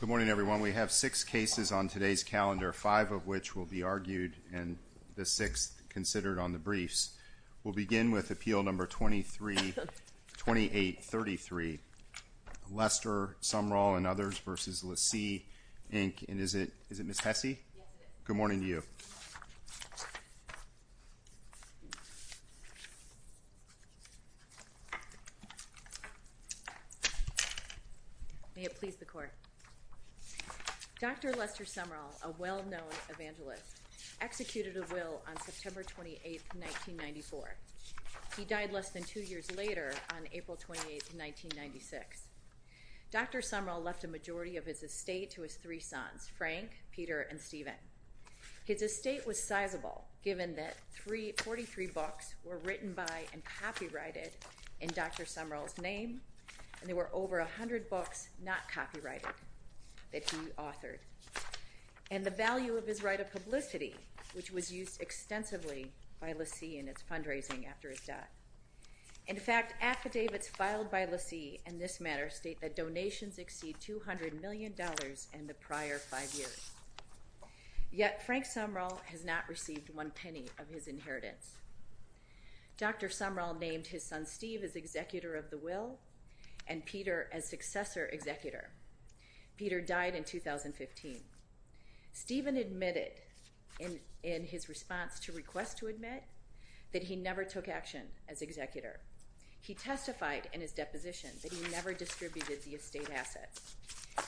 Good morning, everyone. We have six cases on today's calendar, five of which will be argued, and the sixth considered on the briefs. We'll begin with Appeal Number 2833, Lester Sumrall v. LeSEA, Inc., and is it Ms. Hesse? Yes, it is. Good morning to you. May it please the Court. Dr. Lester Sumrall, a well-known evangelist, executed a will on September 28, 1994. He died less than two years later on April 28, 1996. Dr. Sumrall left a majority of his estate to his three sons, Frank, Peter, and Stephen. His estate was sizable, given that 43 books were written by and copyrighted in Dr. Sumrall's name, and there were over 100 books not copyrighted that he authored, and the value of his right of publicity, which was used extensively by LeSEA in its fundraising after his death. In fact, affidavits filed by LeSEA in this matter state that donations exceed $200 million in the prior five years. Yet Frank Sumrall has not received one penny of his inheritance. Dr. Sumrall named his son Steve as executor of the will and Peter as successor executor. Peter died in 2015. Stephen admitted in his response to requests to admit that he never took action as executor. He testified in his deposition that he never distributed the estate assets.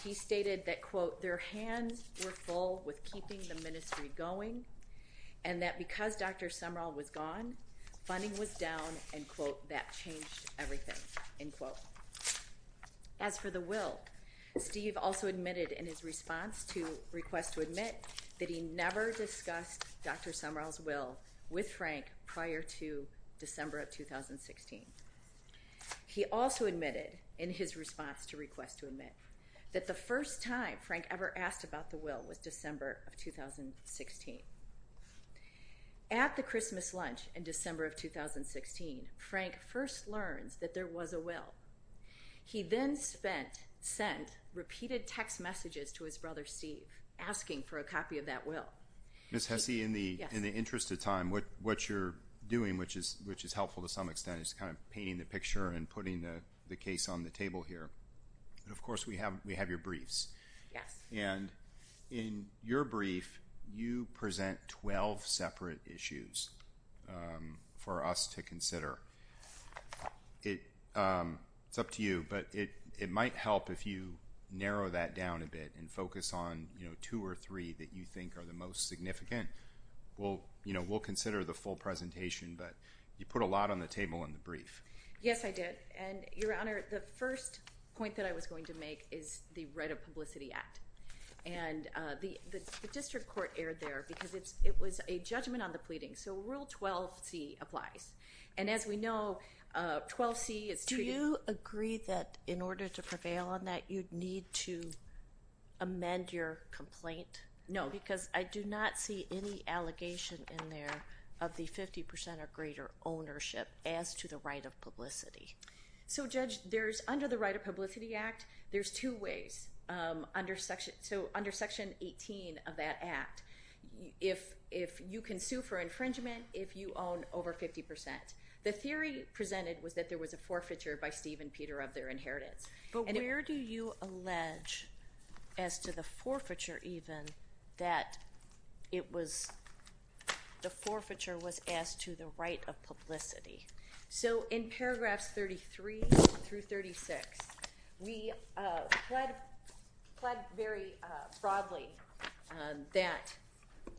He stated that, quote, their hands were full with keeping the ministry going, and that because Dr. Sumrall was gone, funding was down, and, quote, that changed everything, end quote. As for the will, Steve also admitted in his response to requests to admit that he never discussed Dr. Sumrall's will with Frank prior to December of 2016. He also admitted in his response to requests to admit that the first time Frank ever asked about the will was December of 2016. At the Christmas lunch in December of 2016, Frank first learns that there was a will. He then spent – sent repeated text messages to his brother Steve asking for a copy of that will. Ms. Hesse, in the interest of time, what you're doing, which is helpful to some extent, is kind of painting the picture and putting the case on the table here. And, of course, we have your briefs. Yes. And in your brief, you present 12 separate issues for us to consider. It's up to you, but it might help if you narrow that down a bit and focus on, you know, two or three that you think are the most significant. We'll, you know, we'll consider the full presentation, but you put a lot on the table in the brief. Yes, I did. And, Your Honor, the first point that I was going to make is the Right of Publicity Act. And the district court erred there because it was a judgment on the pleading. So Rule 12c applies. And as we know, 12c is treaty. Do you agree that in order to prevail on that, you'd need to amend your complaint? No. Because I do not see any allegation in there of the 50% or greater ownership as to the right of publicity. So, Judge, there's under the Right of Publicity Act, there's two ways. So under Section 18 of that act, if you can sue for infringement if you own over 50%. The theory presented was that there was a forfeiture by Steve and Peter of their inheritance. But where do you allege as to the forfeiture even that it was the forfeiture was as to the right of publicity? So in paragraphs 33 through 36, we pled very broadly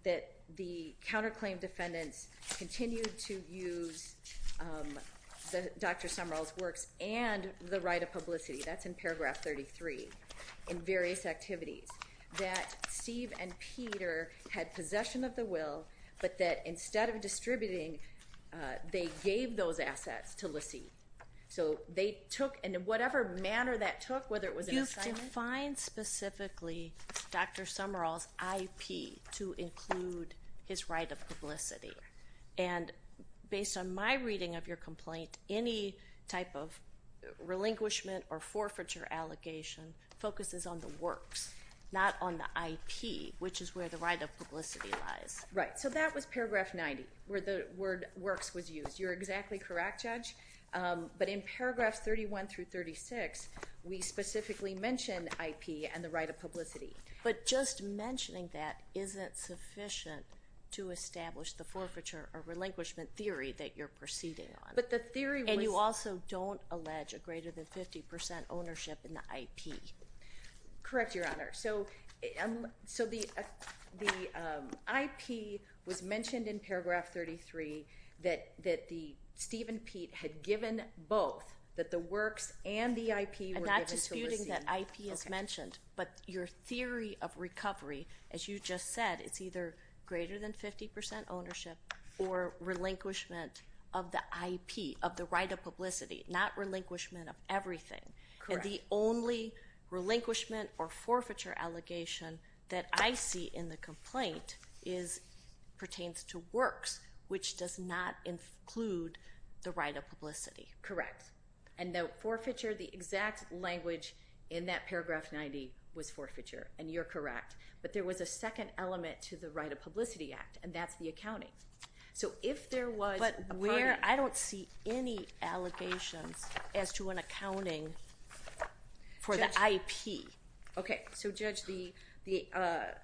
that the counterclaim defendants continued to use Dr. Sumrall's works and the right of publicity. That's in paragraph 33 in various activities. That Steve and Peter had possession of the will, but that instead of distributing, they gave those assets to LaCie. So they took in whatever manner that took, whether it was an assignment. You've defined specifically Dr. Sumrall's IP to include his right of publicity. And based on my reading of your complaint, any type of relinquishment or forfeiture allegation focuses on the works, not on the IP, which is where the right of publicity lies. Right. So that was paragraph 90, where the word works was used. You're exactly correct, Judge. But in paragraphs 31 through 36, we specifically mention IP and the right of publicity. But just mentioning that isn't sufficient to establish the forfeiture or relinquishment theory that you're proceeding on. But the theory was— And you also don't allege a greater than 50 percent ownership in the IP. Correct, Your Honor. So the IP was mentioned in paragraph 33 that Steve and Pete had given both, that the works and the IP were given to LaCie. But your theory of recovery, as you just said, is either greater than 50 percent ownership or relinquishment of the IP, of the right of publicity, not relinquishment of everything. And the only relinquishment or forfeiture allegation that I see in the complaint pertains to works, which does not include the right of publicity. Correct. And the forfeiture, the exact language in that paragraph 90 was forfeiture, and you're correct. But there was a second element to the right of publicity act, and that's the accounting. So if there was a party— But where—I don't see any allegations as to an accounting for the IP. Okay. So, Judge, the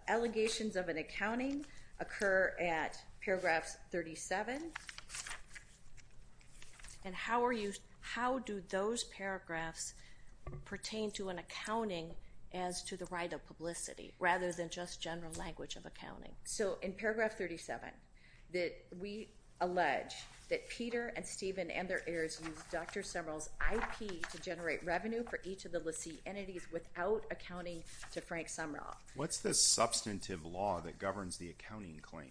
allegations of an accounting occur at paragraph 37. And how are you—how do those paragraphs pertain to an accounting as to the right of publicity rather than just general language of accounting? So in paragraph 37, that we allege that Peter and Stephen and their heirs used Dr. Sumrall's IP to generate revenue for each of the LaCie entities without accounting to Frank Sumrall. What's the substantive law that governs the accounting claim?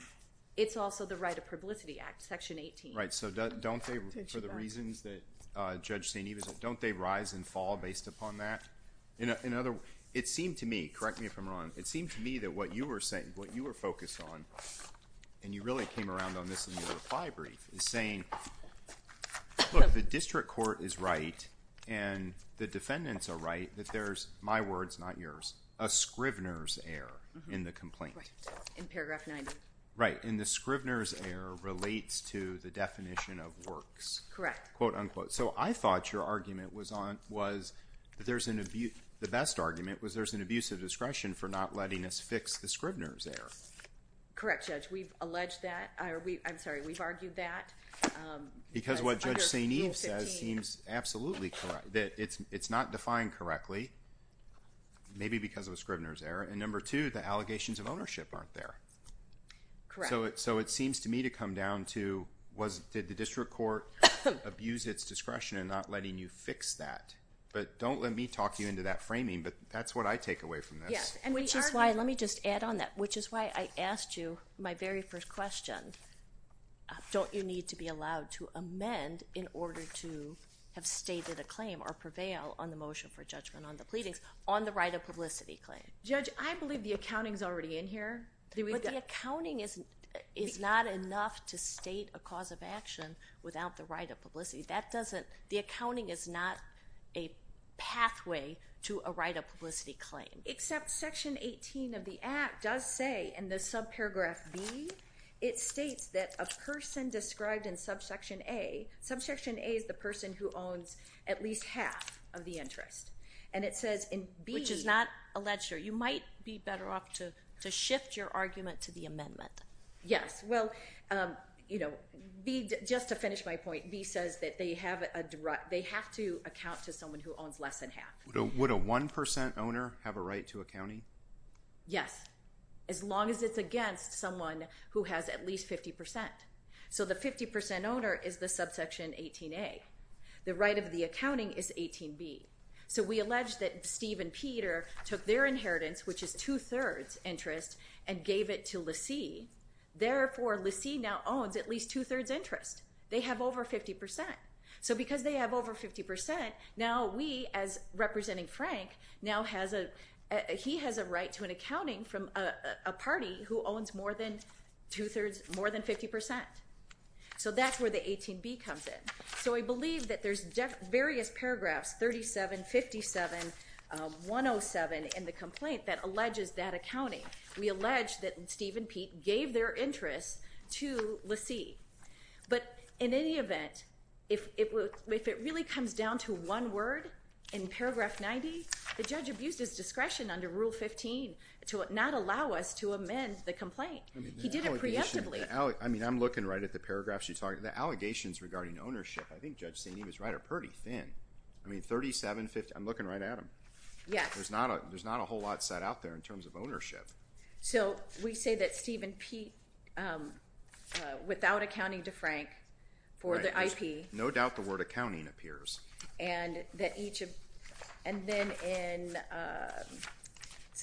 It's also the right of publicity act, section 18. Right. So don't they, for the reasons that Judge St. Eva said, don't they rise and fall based upon that? It seemed to me—correct me if I'm wrong—it seemed to me that what you were saying, what you were focused on, and you really came around on this in your reply brief, is saying, look, the district court is right and the defendants are right that there's, my words, not yours, a Scrivener's error in the complaint. In paragraph 90. Right. And the Scrivener's error relates to the definition of works. Correct. Quote, unquote. So I thought your argument was that there's an—the best argument was there's an abuse of discretion for not letting us fix the Scrivener's error. Correct, Judge. We've alleged that. I'm sorry, we've argued that. Because what Judge St. Eve says seems absolutely correct, that it's not defined correctly, maybe because of a Scrivener's error. And number two, the allegations of ownership aren't there. Correct. So it seems to me to come down to was—did the district court abuse its discretion in not letting you fix that? But don't let me talk you into that framing, but that's what I take away from this. Yes, and which is why—let me just add on that. Which is why I asked you my very first question, don't you need to be allowed to amend in order to have stated a claim or prevail on the motion for judgment on the pleadings on the right of publicity claim? Judge, I believe the accounting's already in here. But the accounting is not enough to state a cause of action without the right of publicity. That doesn't—the accounting is not a pathway to a right of publicity claim. Except Section 18 of the Act does say in the subparagraph B, it states that a person described in subsection A—subsection A is the person who owns at least half of the interest. And it says in B— Which is not a ledger. You might be better off to shift your argument to the amendment. Yes. Well, you know, B—just to finish my point, B says that they have a—they have to account to someone who owns less than half. Would a 1% owner have a right to accounting? Yes, as long as it's against someone who has at least 50%. So the 50% owner is the subsection 18A. The right of the accounting is 18B. So we allege that Steve and Peter took their inheritance, which is two-thirds interest, and gave it to Lacy. Therefore, Lacy now owns at least two-thirds interest. They have over 50%. So because they have over 50%, now we, as representing Frank, now has a—he has a right to an accounting from a party who owns more than two-thirds—more than 50%. So that's where the 18B comes in. So I believe that there's various paragraphs, 37, 57, 107, in the complaint that alleges that accounting. We allege that Steve and Pete gave their interest to Lacy. But in any event, if it really comes down to one word in paragraph 90, the judge abused his discretion under Rule 15 to not allow us to amend the complaint. He did it preemptively. I mean, I'm looking right at the paragraphs you're talking about. The allegations regarding ownership, I think Judge Sandy was right, are pretty thin. I mean, 37, 57—I'm looking right at them. Yes. There's not a whole lot set out there in terms of ownership. So we say that Steve and Pete, without accounting to Frank for the IP— Right, because no doubt the word accounting appears. And then in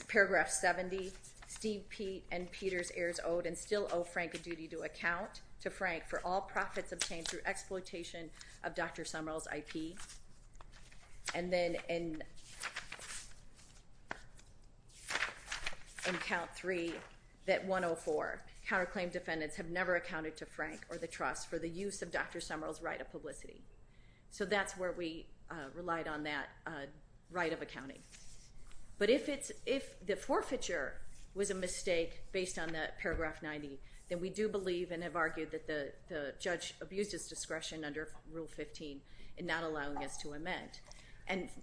paragraph 70, Steve, Pete, and Peter's heirs owed and still owe Frank a duty to account to Frank for all profits obtained through exploitation of Dr. Sumrall's IP. And then in count three, that 104, counterclaim defendants have never accounted to Frank or the trust for the use of Dr. Sumrall's right of publicity. So that's where we relied on that right of accounting. But if the forfeiture was a mistake based on that paragraph 90, then we do believe and have argued that the judge abused his discretion under Rule 15 in not allowing us to amend.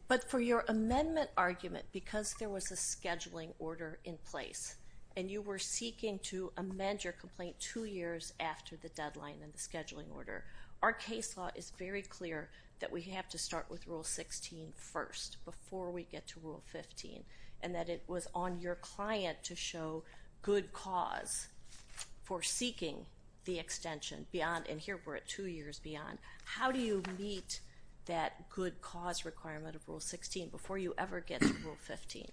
But for your amendment argument, because there was a scheduling order in place, and you were seeking to amend your complaint two years after the deadline and the scheduling order, our case law is very clear that we have to start with Rule 16 first before we get to Rule 15, and that it was on your client to show good cause for seeking the extension beyond—and here we're at two years beyond. How do you meet that good cause requirement of Rule 16 before you ever get to Rule 15?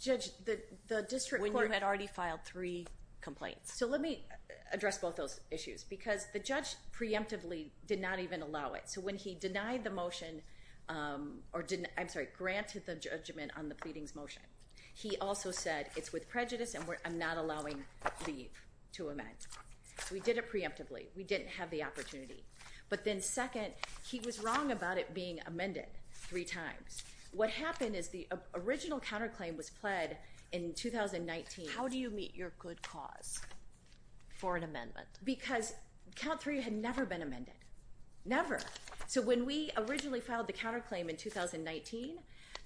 Judge, the district court— When you had already filed three complaints. So let me address both those issues, because the judge preemptively did not even allow it. So when he denied the motion—I'm sorry, granted the judgment on the pleadings motion, he also said it's with prejudice and I'm not allowing leave to amend. We did it preemptively. We didn't have the opportunity. But then second, he was wrong about it being amended three times. What happened is the original counterclaim was pled in 2019. How do you meet your good cause for an amendment? Because Count 3 had never been amended. Never. So when we originally filed the counterclaim in 2019,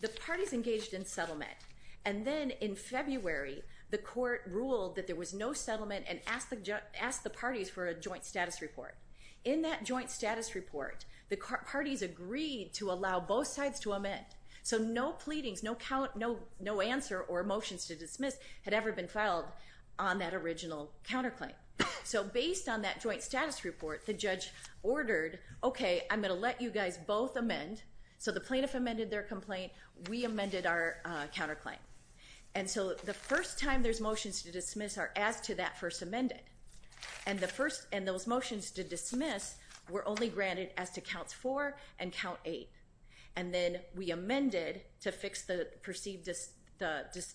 the parties engaged in settlement. And then in February, the court ruled that there was no settlement and asked the parties for a joint status report. In that joint status report, the parties agreed to allow both sides to amend. So no pleadings, no answer or motions to dismiss had ever been filed on that original counterclaim. So based on that joint status report, the judge ordered, OK, I'm going to let you guys both amend. So the plaintiff amended their complaint. We amended our counterclaim. And so the first time there's motions to dismiss are asked to that first amended. And those motions to dismiss were only granted as to Counts 4 and Count 8. And then we amended to fix the perceived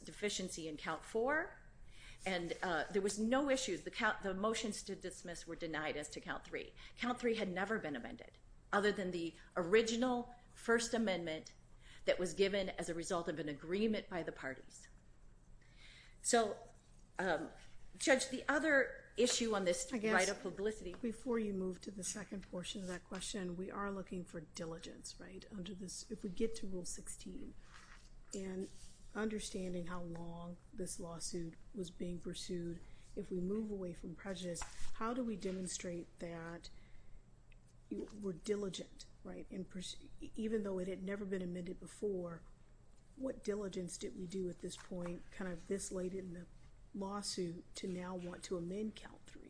deficiency in Count 4. And there was no issues. The motions to dismiss were denied as to Count 3. Count 3 had never been amended other than the original First Amendment that was given as a result of an agreement by the parties. So, Judge, the other issue on this right of publicity. Before you move to the second portion of that question, we are looking for diligence. If we get to Rule 16 and understanding how long this lawsuit was being pursued, if we move away from prejudice, how do we demonstrate that we're diligent? Even though it had never been amended before, what diligence did we do at this point, kind of this late in the lawsuit, to now want to amend Count 3?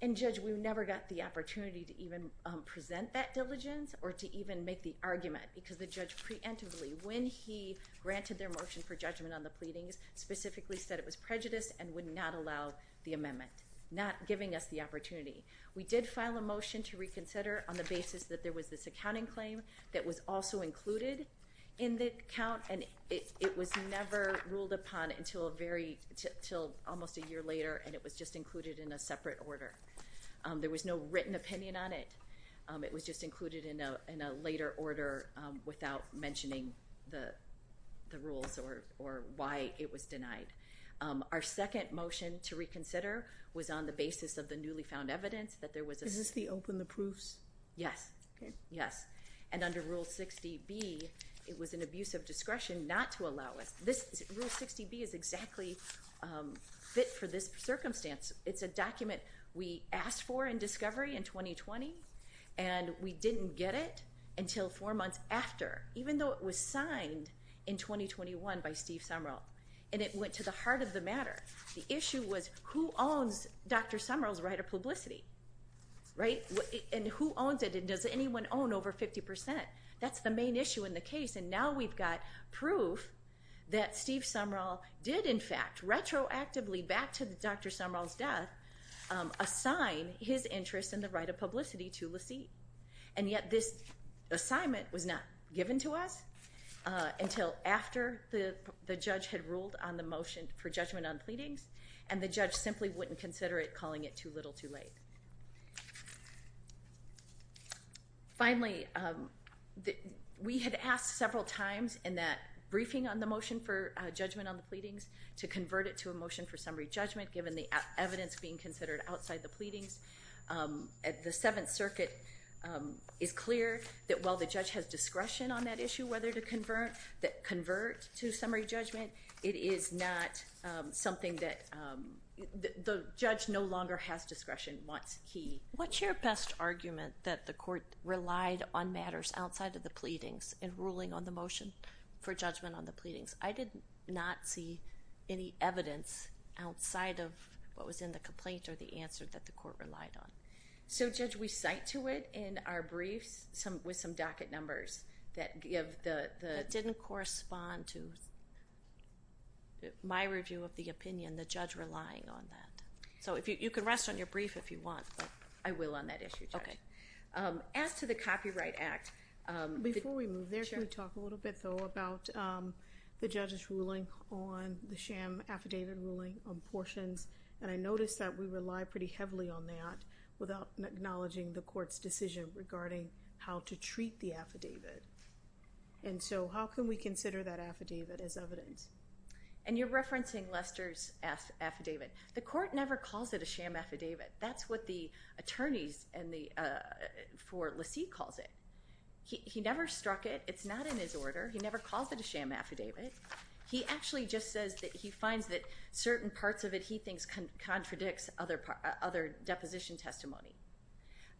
And, Judge, we never got the opportunity to even present that diligence or to even make the argument. Because the judge preemptively, when he granted their motion for judgment on the pleadings, specifically said it was prejudice and would not allow the amendment, not giving us the opportunity. We did file a motion to reconsider on the basis that there was this accounting claim that was also included in the count. And it was never ruled upon until almost a year later, and it was just included in a separate order. There was no written opinion on it. It was just included in a later order without mentioning the rules or why it was denied. Our second motion to reconsider was on the basis of the newly found evidence that there was a— Is this the open the proofs? Yes. Okay. Yes. And under Rule 60B, it was an abuse of discretion not to allow us— Rule 60B is exactly fit for this circumstance. It's a document we asked for in discovery in 2020, and we didn't get it until four months after, even though it was signed in 2021 by Steve Sumrall. And it went to the heart of the matter. The issue was who owns Dr. Sumrall's right of publicity, right? And who owns it, and does anyone own over 50 percent? That's the main issue in the case, and now we've got proof that Steve Sumrall did, in fact, retroactively back to Dr. Sumrall's death, assign his interest in the right of publicity to LaCie. And yet this assignment was not given to us until after the judge had ruled on the motion for judgment on pleadings, and the judge simply wouldn't consider it, calling it too little too late. Finally, we had asked several times in that briefing on the motion for judgment on the pleadings to convert it to a motion for summary judgment, given the evidence being considered outside the pleadings. The Seventh Circuit is clear that while the judge has discretion on that issue, that convert to summary judgment, it is not something that the judge no longer has discretion once he- What's your best argument that the court relied on matters outside of the pleadings in ruling on the motion for judgment on the pleadings? I did not see any evidence outside of what was in the complaint or the answer that the court relied on. So, Judge, we cite to it in our briefs with some docket numbers that didn't correspond to my review of the opinion, the judge relying on that. So you can rest on your brief if you want. I will on that issue, Judge. As to the Copyright Act- Before we move there, can we talk a little bit, though, about the judge's ruling on the sham affidavit ruling on portions? And I noticed that we rely pretty heavily on that without acknowledging the court's decision regarding how to treat the affidavit. And so how can we consider that affidavit as evidence? And you're referencing Lester's affidavit. The court never calls it a sham affidavit. That's what the attorneys for Lacy calls it. He never struck it. It's not in his order. He never calls it a sham affidavit. He actually just says that he finds that certain parts of it he thinks contradicts other deposition testimony.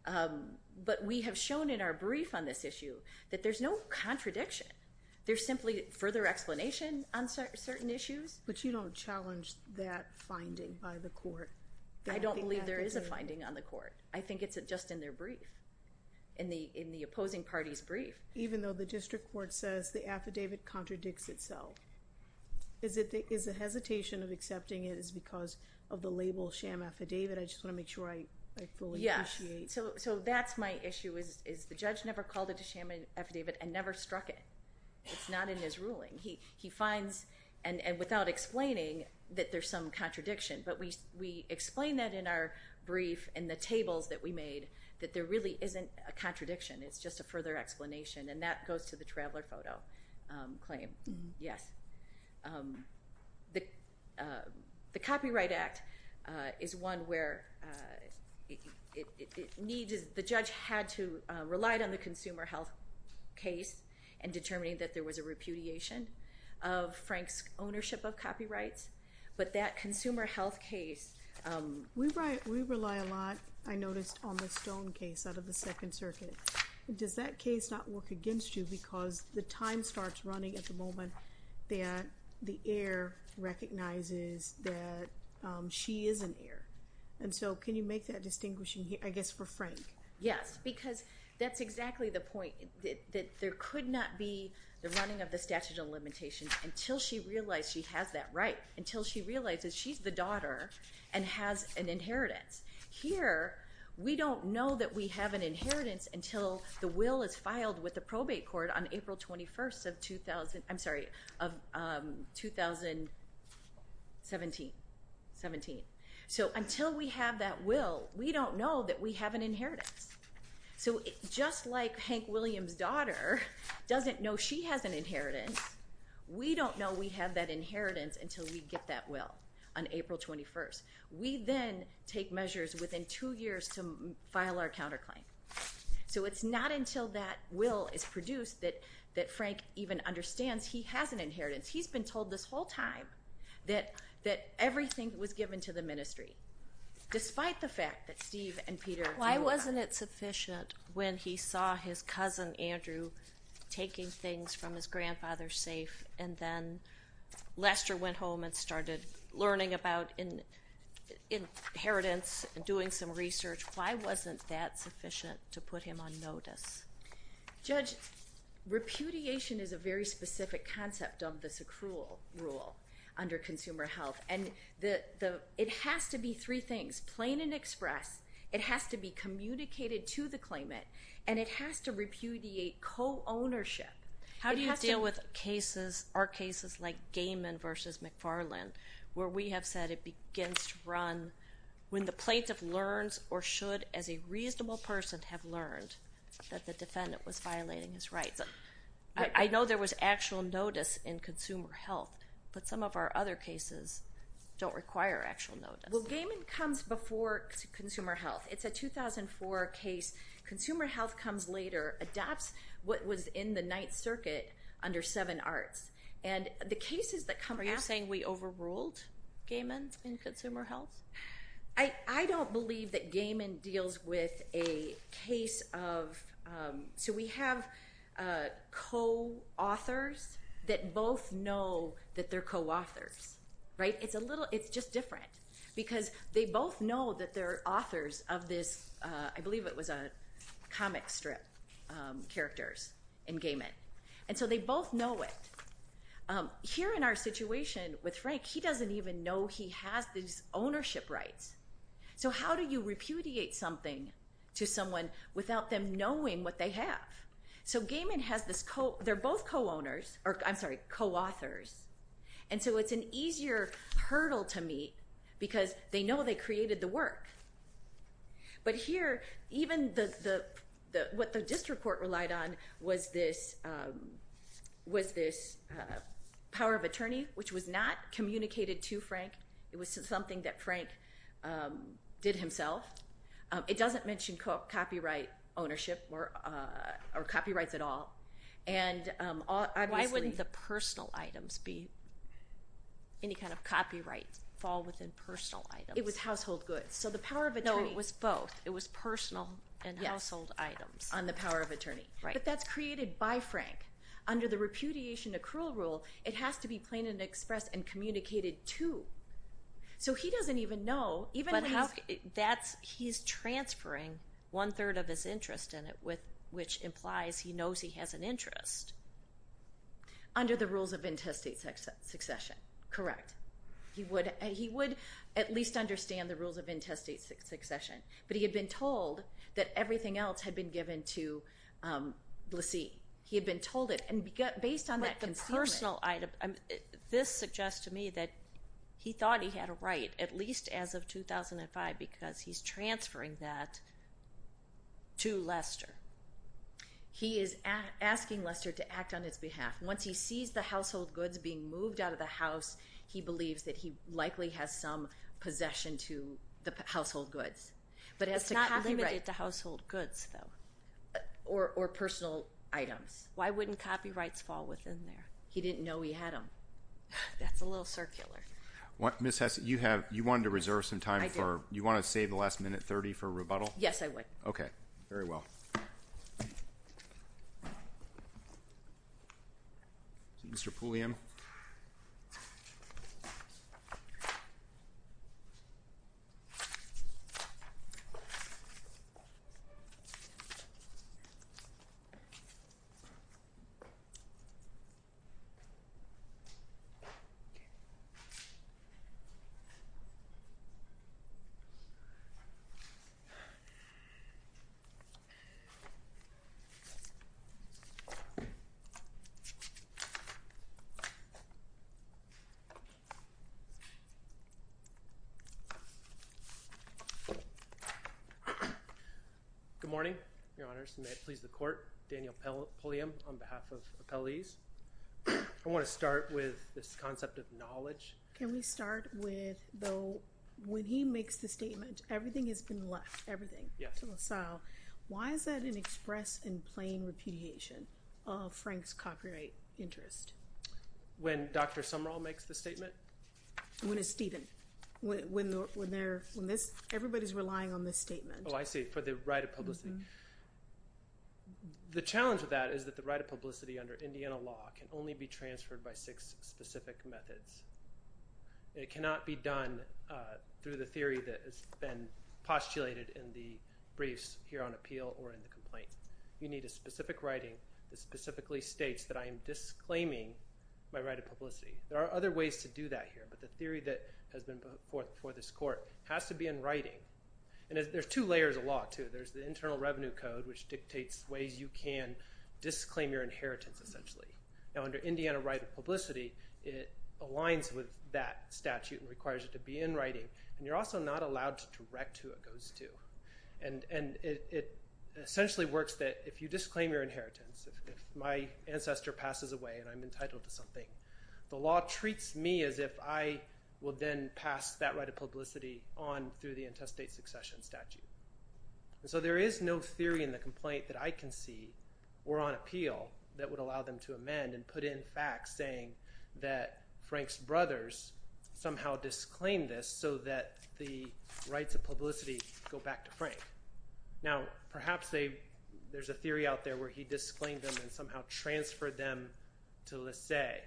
But we have shown in our brief on this issue that there's no contradiction. There's simply further explanation on certain issues. But you don't challenge that finding by the court? I don't believe there is a finding on the court. I think it's just in their brief, in the opposing party's brief. Even though the district court says the affidavit contradicts itself, is the hesitation of accepting it because of the label sham affidavit? I just want to make sure I fully appreciate. Yeah, so that's my issue is the judge never called it a sham affidavit and never struck it. It's not in his ruling. He finds, and without explaining, that there's some contradiction. But we explain that in our brief, in the tables that we made, that there really isn't a contradiction. It's just a further explanation. And that goes to the traveler photo claim. Yes. The Copyright Act is one where the judge had to rely on the consumer health case in determining that there was a repudiation of Frank's ownership of copyrights. But that consumer health case. We rely a lot, I noticed, on the Stone case out of the Second Circuit. Does that case not work against you because the time starts running at the moment that the heir recognizes that she is an heir? And so can you make that distinguishing, I guess, for Frank? Yes, because that's exactly the point. There could not be the running of the statute of limitations until she realized she has that right, until she realizes she's the daughter and has an inheritance. Here, we don't know that we have an inheritance until the will is filed with the probate court on April 21st of 2017. So until we have that will, we don't know that we have an inheritance. So just like Hank Williams' daughter doesn't know she has an inheritance, we don't know we have that inheritance until we get that will on April 21st. We then take measures within two years to file our counterclaim. So it's not until that will is produced that Frank even understands he has an inheritance. He's been told this whole time that everything was given to the ministry, despite the fact that Steve and Peter do not. Wasn't it sufficient when he saw his cousin, Andrew, taking things from his grandfather's safe, and then Lester went home and started learning about inheritance and doing some research? Why wasn't that sufficient to put him on notice? Judge, repudiation is a very specific concept of this accrual rule under consumer health. It has to be three things, plain and express. It has to be communicated to the claimant, and it has to repudiate co-ownership. How do you deal with cases or cases like Gaiman v. McFarland, where we have said it begins to run when the plaintiff learns or should, as a reasonable person, have learned that the defendant was violating his rights? I know there was actual notice in consumer health, but some of our other cases don't require actual notice. Well, Gaiman comes before consumer health. It's a 2004 case. Consumer health comes later, adopts what was in the Ninth Circuit under Seven Arts. Are you saying we overruled Gaiman in consumer health? I don't believe that Gaiman deals with a case of—so we have co-authors that both know that they're co-authors, right? It's a little—it's just different because they both know that they're authors of this—I believe it was a comic strip characters in Gaiman, and so they both know it. Here in our situation with Frank, he doesn't even know he has these ownership rights. So how do you repudiate something to someone without them knowing what they have? So Gaiman has this—they're both co-authors, and so it's an easier hurdle to meet because they know they created the work. But here, even what the district court relied on was this power of attorney, which was not communicated to Frank. It was something that Frank did himself. It doesn't mention copyright ownership or copyrights at all, and obviously— Why wouldn't the personal items be any kind of copyright fall within personal items? It was household goods. So the power of attorney— No, it was both. It was personal and household items. On the power of attorney. Right. But that's created by Frank. Under the repudiation accrual rule, it has to be plain and express and communicated to. So he doesn't even know, even when he's— But that's—he's transferring one-third of his interest in it, which implies he knows he has an interest. Under the rules of intestate succession. Correct. He would at least understand the rules of intestate succession, but he had been told that everything else had been given to Blasey. He had been told it, and based on that concealment— But the personal item—this suggests to me that he thought he had a right, at least as of 2005, because he's transferring that to Lester. He is asking Lester to act on his behalf. Once he sees the household goods being moved out of the house, he believes that he likely has some possession to the household goods. But as to copyright— It's not limited to household goods, though. Or personal items. Why wouldn't copyrights fall within there? He didn't know he had them. That's a little circular. Ms. Hesse, you have—you wanted to reserve some time for— I did. You want to save the last minute, 30, for rebuttal? Yes, I would. Okay. Very well. Mr. Pulliam. Good morning, Your Honors, and may it please the Court. Daniel Pulliam on behalf of Appellees. I want to start with this concept of knowledge. Can we start with, though, when he makes the statement, everything has been left, everything, to LaSalle, why is that an express and plain repudiation of Frank's copyright interest? When Dr. Sumrall makes the statement? When it's Stephen. When they're—when this—everybody's relying on this statement. Oh, I see. For the right of publicity. The challenge of that is that the right of publicity under Indiana law can only be transferred by six specific methods. It cannot be done through the theory that has been postulated in the briefs here on appeal or in the complaint. You need a specific writing that specifically states that I am disclaiming my right of publicity. There are other ways to do that here, but the theory that has been put forth before this Court has to be in writing. And there's two layers of law, too. There's the Internal Revenue Code, which dictates ways you can disclaim your inheritance, essentially. Now, under Indiana right of publicity, it aligns with that statute and requires it to be in writing, and you're also not allowed to direct who it goes to. And it essentially works that if you disclaim your inheritance, if my ancestor passes away and I'm entitled to something, the law treats me as if I will then pass that right of publicity on through the intestate succession statute. So there is no theory in the complaint that I can see or on appeal that would allow them to amend and put in facts saying that Frank's brothers somehow disclaimed this so that the rights of publicity go back to Frank. Now, perhaps there's a theory out there where he disclaimed them and somehow transferred them to Laissez,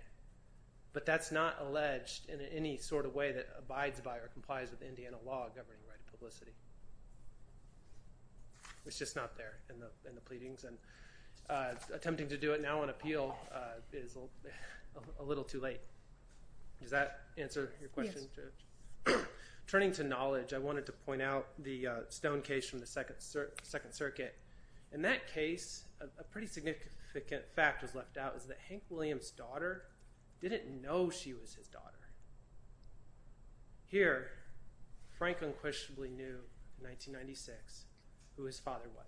but that's not alleged in any sort of way that abides by or complies with Indiana law governing right of publicity. It's just not there in the pleadings, and attempting to do it now on appeal is a little too late. Does that answer your question? Yes. Turning to knowledge, I wanted to point out the Stone case from the Second Circuit. In that case, a pretty significant fact was left out is that Hank Williams' daughter didn't know she was his daughter. Here, Frank unquestionably knew in 1996 who his father was.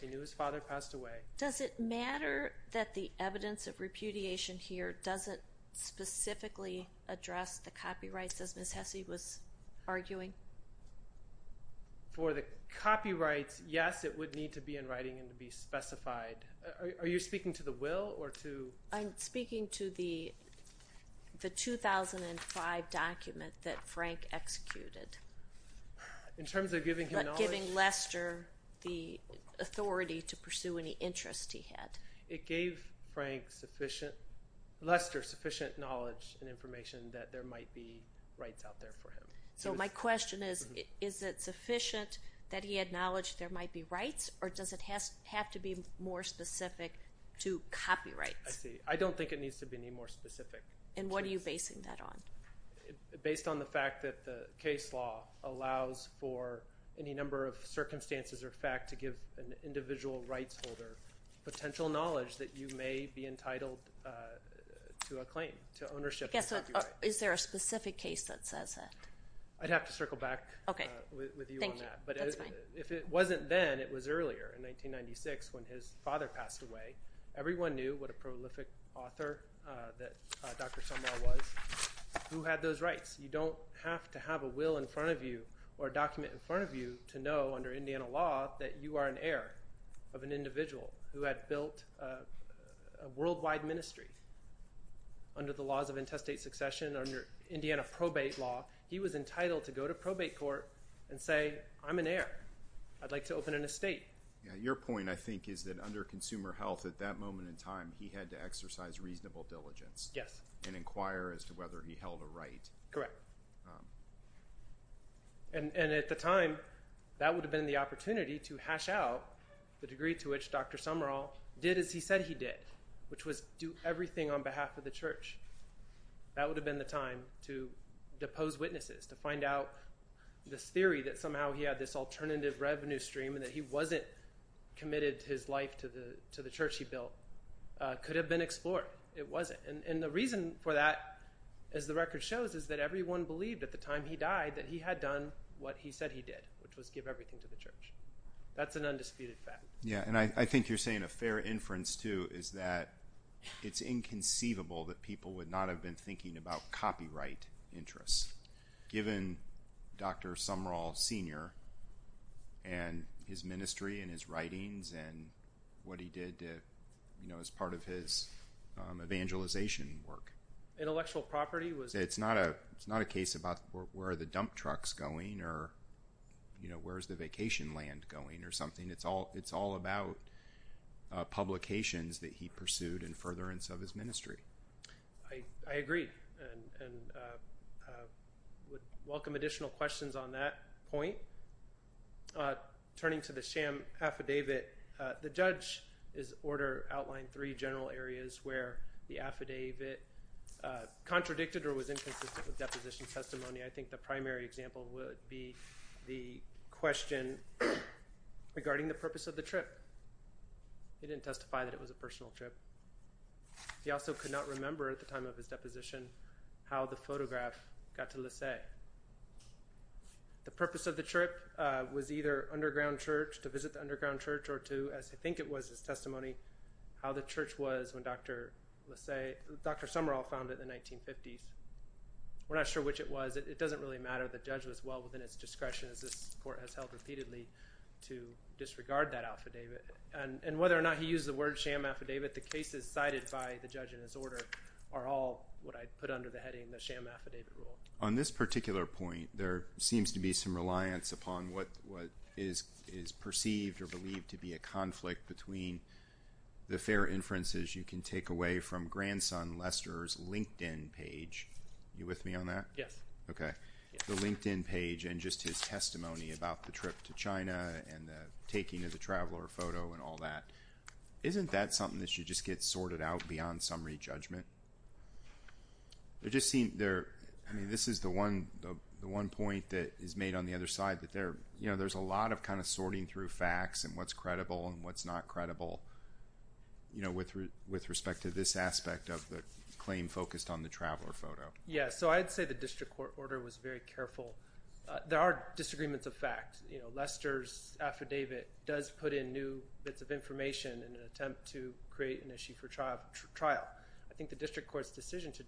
He knew his father passed away. Does it matter that the evidence of repudiation here doesn't specifically address the copyrights as Ms. Hesse was arguing? For the copyrights, yes. It would need to be in writing and to be specified. Are you speaking to the will? I'm speaking to the 2005 document that Frank executed. In terms of giving him knowledge? Giving Lester the authority to pursue any interest he had. It gave Lester sufficient knowledge and information that there might be rights out there for him. My question is, is it sufficient that he had knowledge there might be rights, or does it have to be more specific to copyrights? I don't think it needs to be any more specific. What are you basing that on? Based on the fact that the case law allows for any number of circumstances or facts to give an individual rights holder potential knowledge that you may be entitled to a claim, to ownership of a copyright. Is there a specific case that says that? I'd have to circle back with you on that. If it wasn't then, it was earlier in 1996 when his father passed away. Everyone knew what a prolific author that Dr. Somar was who had those rights. You don't have to have a will in front of you or a document in front of you to know under Indiana law that you are an heir of an individual who had built a worldwide ministry under the laws of intestate succession, under Indiana probate law. He was entitled to go to probate court and say, I'm an heir. I'd like to open an estate. Your point, I think, is that under consumer health at that moment in time, he had to exercise reasonable diligence and inquire as to whether he held a right. Correct. And at the time, that would have been the opportunity to hash out the degree to which Dr. Somar did as he said he did, which was do everything on behalf of the church. That would have been the time to depose witnesses, to find out this theory that somehow he had this alternative revenue stream and that he wasn't committed his life to the church he built. It could have been explored. It wasn't. And the reason for that, as the record shows, is that everyone believed at the time he died that he had done what he said he did, which was give everything to the church. That's an undisputed fact. Yeah, and I think you're saying a fair inference, too, is that it's inconceivable that people would not have been thinking about copyright interests. Given Dr. Somar Senior and his ministry and his writings and what he did as part of his evangelization work. Intellectual property? It's not a case about where are the dump trucks going or where is the vacation land going or something. It's all about publications that he pursued in furtherance of his ministry. I agree and would welcome additional questions on that point. Turning to the sham affidavit, the judge's order outlined three general areas where the affidavit contradicted or was inconsistent with deposition testimony. I think the primary example would be the question regarding the purpose of the trip. He didn't testify that it was a personal trip. He also could not remember at the time of his deposition how the photograph got to Lassay. The purpose of the trip was either to visit the underground church or to, as I think it was his testimony, how the church was when Dr. Somar found it in the 1950s. We're not sure which it was. It doesn't really matter. The judge was well within his discretion, as this court has held repeatedly, to disregard that affidavit. Whether or not he used the word sham affidavit, the cases cited by the judge in his order are all what I put under the heading the sham affidavit rule. On this particular point, there seems to be some reliance upon what is perceived or believed to be a conflict between the fair inferences you can take away from grandson Lester's LinkedIn page. Are you with me on that? Yes. The LinkedIn page and just his testimony about the trip to China and the taking of the traveler photo and all that. Isn't that something that should just get sorted out beyond summary judgment? This is the one point that is made on the other side. There's a lot of sorting through facts and what's credible and what's not credible with respect to this aspect of the claim focused on the traveler photo. Yes. I'd say the district court order was very careful. There are disagreements of fact. Lester's affidavit does put in new bits of information in an attempt to create an issue for trial. I think the district court's decision to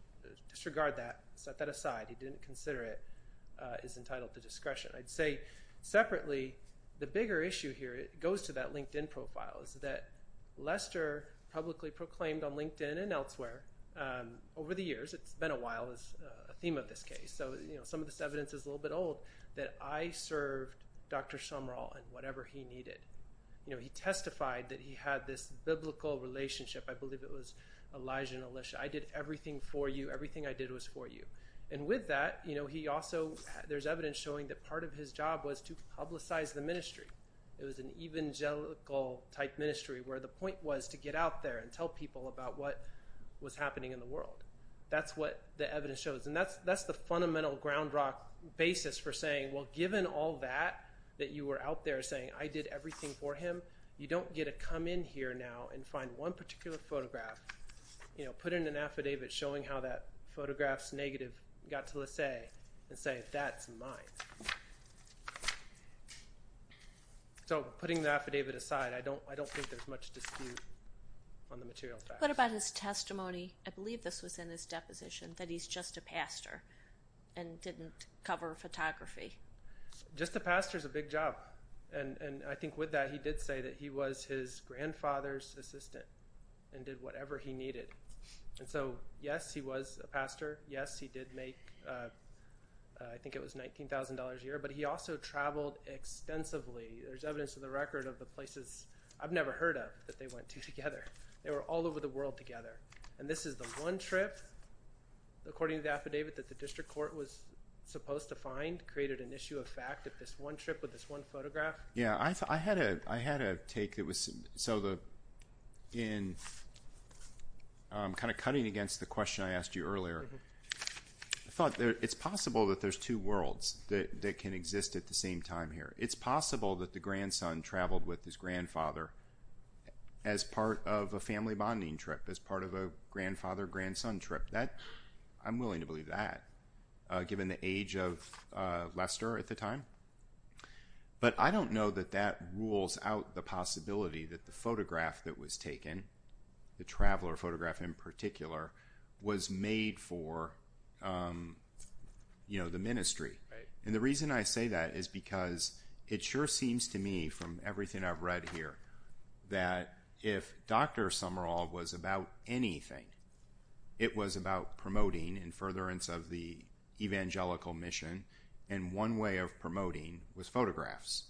disregard that, set that aside, he didn't consider it, is entitled to discretion. I'd say separately, the bigger issue here goes to that LinkedIn profile. Lester publicly proclaimed on LinkedIn and elsewhere over the years, it's been a while, is a theme of this case. Some of this evidence is a little bit old, that I served Dr. Sumrall in whatever he needed. He testified that he had this biblical relationship. I believe it was Elijah and Elisha. I did everything for you. Everything I did was for you. With that, there's evidence showing that part of his job was to publicize the ministry. It was an evangelical-type ministry where the point was to get out there and tell people about what was happening in the world. That's what the evidence shows. And that's the fundamental ground rock basis for saying, well, given all that, that you were out there saying, I did everything for him, you don't get to come in here now and find one particular photograph, put in an affidavit showing how that photograph's negative got to Laissez and say, that's mine. So putting the affidavit aside, I don't think there's much dispute on the material facts. What about his testimony? I believe this was in his deposition, that he's just a pastor and didn't cover photography. Just a pastor's a big job. And I think with that, he did say that he was his grandfather's assistant and did whatever he needed. And so, yes, he was a pastor. Yes, he did make, I think it was $19,000 a year. But he also traveled extensively. There's evidence in the record of the places I've never heard of that they went to together. They were all over the world together. And this is the one trip, according to the affidavit, that the district court was supposed to find created an issue of fact of this one trip with this one photograph. Yeah, I had a take. So in kind of cutting against the question I asked you earlier, I thought it's possible that there's two worlds that can exist at the same time here. It's possible that the grandson traveled with his grandfather as part of a family bonding trip, as part of a grandfather-grandson trip. I'm willing to believe that, given the age of Lester at the time. But I don't know that that rules out the possibility that the photograph that was taken, the traveler photograph in particular, was made for the ministry. And the reason I say that is because it sure seems to me, from everything I've read here, that if Dr. Summerall was about anything, it was about promoting in furtherance of the evangelical mission, and one way of promoting was photographs.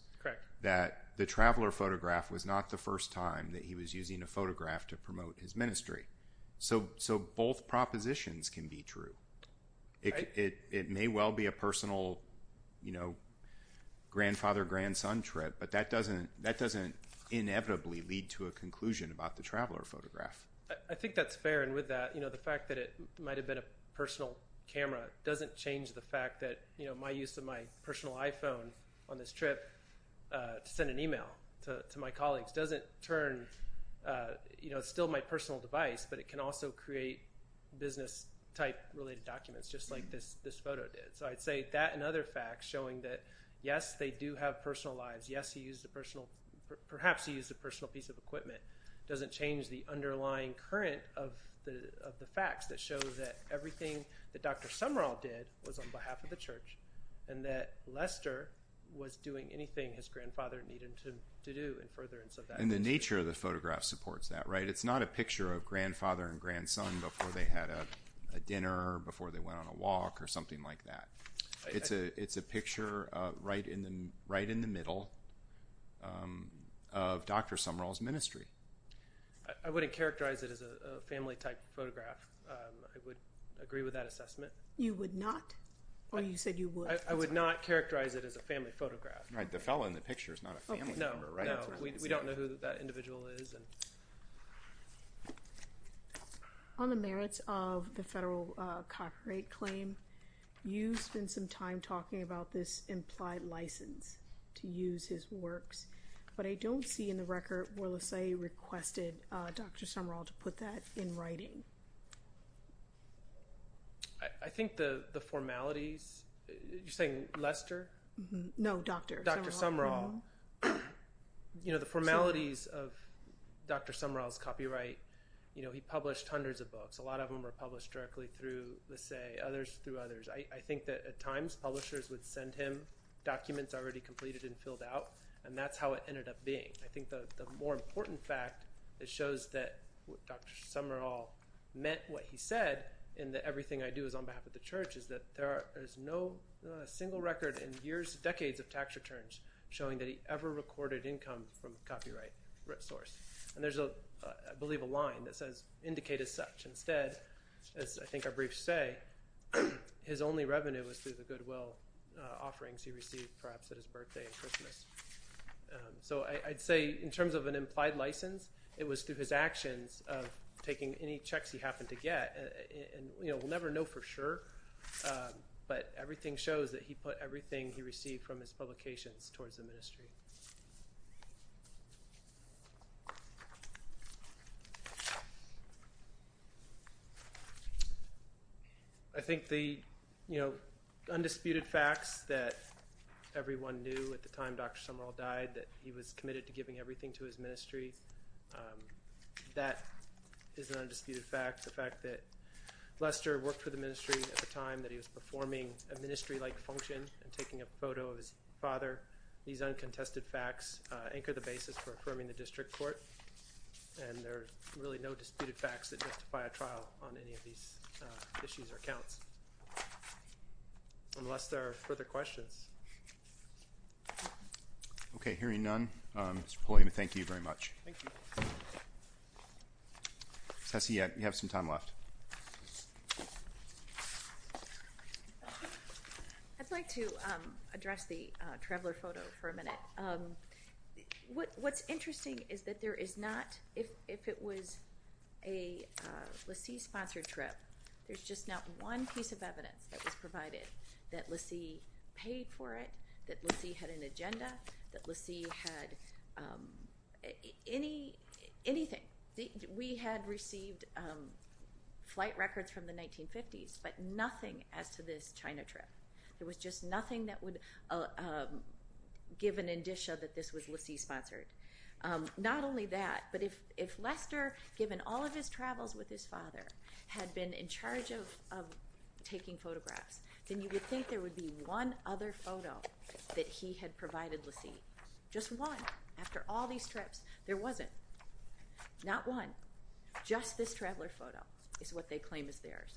That the traveler photograph was not the first time that he was using a photograph to promote his ministry. So both propositions can be true. It may well be a personal grandfather-grandson trip, but that doesn't inevitably lead to a conclusion about the traveler photograph. I think that's fair. And with that, the fact that it might have been a personal camera doesn't change the fact that my use of my personal iPhone on this trip to send an email to my colleagues doesn't turn – it's still my personal device, but it can also create business type related documents, just like this photo did. So I'd say that and other facts showing that, yes, they do have personal lives. Yes, he used a personal – perhaps he used a personal piece of equipment. It doesn't change the underlying current of the facts that show that everything that Dr. Summerall did was on behalf of the church, and that Lester was doing anything his grandfather needed him to do in furtherance of that. And the nature of the photograph supports that, right? It's not a picture of grandfather and grandson before they had a dinner, before they went on a walk, or something like that. It's a picture right in the middle of Dr. Summerall's ministry. I wouldn't characterize it as a family type photograph. I would agree with that assessment. You would not? Or you said you would? I would not characterize it as a family photograph. Right. The fellow in the picture is not a family member, right? No, no. We don't know who that individual is. On the merits of the federal copyright claim, you spent some time talking about this implied license to use his works, but I don't see in the record where LaSalle requested Dr. Summerall to put that in writing. I think the formalities – you're saying Lester? No, Dr. Summerall. The formalities of Dr. Summerall's copyright, he published hundreds of books. A lot of them were published directly through LaSalle, others through others. I think that at times publishers would send him documents already completed and filled out, and that's how it ended up being. I think the more important fact that shows that Dr. Summerall meant what he said in the everything I do is on behalf of the church is that there is no single record in decades of tax returns showing that he ever recorded income from a copyright source. And there's, I believe, a line that says, indicate as such. Instead, as I think our briefs say, his only revenue was through the goodwill offerings he received perhaps at his birthday and Christmas. So I'd say in terms of an implied license, it was through his actions of taking any checks he happened to get. We'll never know for sure, but everything shows that he put everything he received from his publications towards the ministry. I think the undisputed facts that everyone knew at the time Dr. Summerall died that he was committed to giving everything to his ministry, that is an undisputed fact. The fact that Lester worked for the ministry at the time that he was performing a ministry-like function and taking a photo of his father, these uncontested facts anchor the basis for affirming the district court. And there's really no disputed facts that justify a trial on any of these issues or counts, unless there are further questions. Okay, hearing none, Mr. Pulliam, thank you very much. Thank you. Tessie, you have some time left. I'd like to address the traveler photo for a minute. What's interesting is that there is not, if it was a Lacie sponsored trip, there's just not one piece of evidence that was provided that Lacie paid for it, that Lacie had an agenda, that Lacie had anything. We had received flight records from the 1950s, but nothing as to this China trip. There was just nothing that would give an indicia that this was Lacie sponsored. Not only that, but if Lester, given all of his travels with his father, had been in charge of taking photographs, then you would think there would be one other photo that he had provided Lacie. Just one. After all these trips, there wasn't. Not one. Just this traveler photo is what they claim is theirs.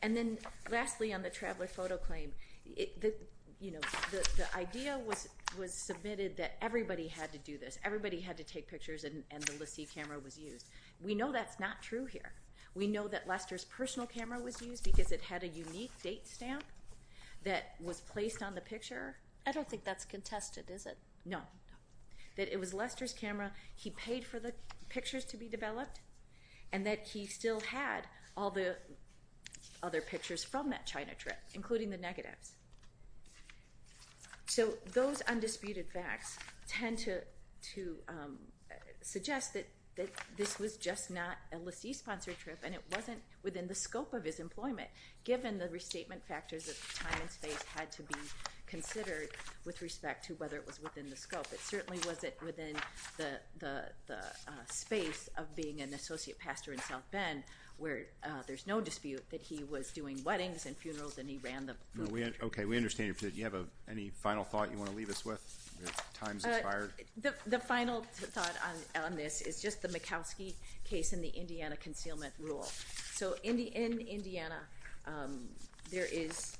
And then lastly on the traveler photo claim, the idea was submitted that everybody had to do this. Everybody had to take pictures and the Lacie camera was used. We know that's not true here. We know that Lester's personal camera was used because it had a unique date stamp that was placed on the picture. I don't think that's contested, is it? No. That it was Lester's camera, he paid for the pictures to be developed, and that he still had all the other pictures from that China trip, including the negatives. So those undisputed facts tend to suggest that this was just not a Lacie-sponsored trip and it wasn't within the scope of his employment, given the restatement factors of time and space had to be considered with respect to whether it was within the scope. It certainly wasn't within the space of being an associate pastor in South Bend, where there's no dispute that he was doing weddings and funerals and he ran the booth. Okay. We understand your position. Do you have any final thought you want to leave us with? Time's expired. The final thought on this is just the Mikowski case and the Indiana concealment rule. So in Indiana, there is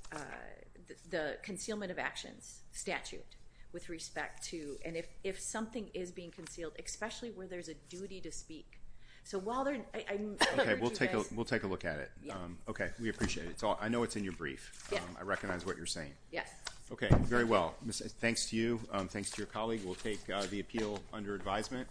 the concealment of actions statute with respect to, and if something is being concealed, especially where there's a duty to speak. So while they're... Okay. We'll take a look at it. Okay. We appreciate it. I know it's in your brief. Yeah. I recognize what you're saying. Yes. Okay. Very well. Thanks to you. Thanks to your colleague. We'll take the appeal under advisement.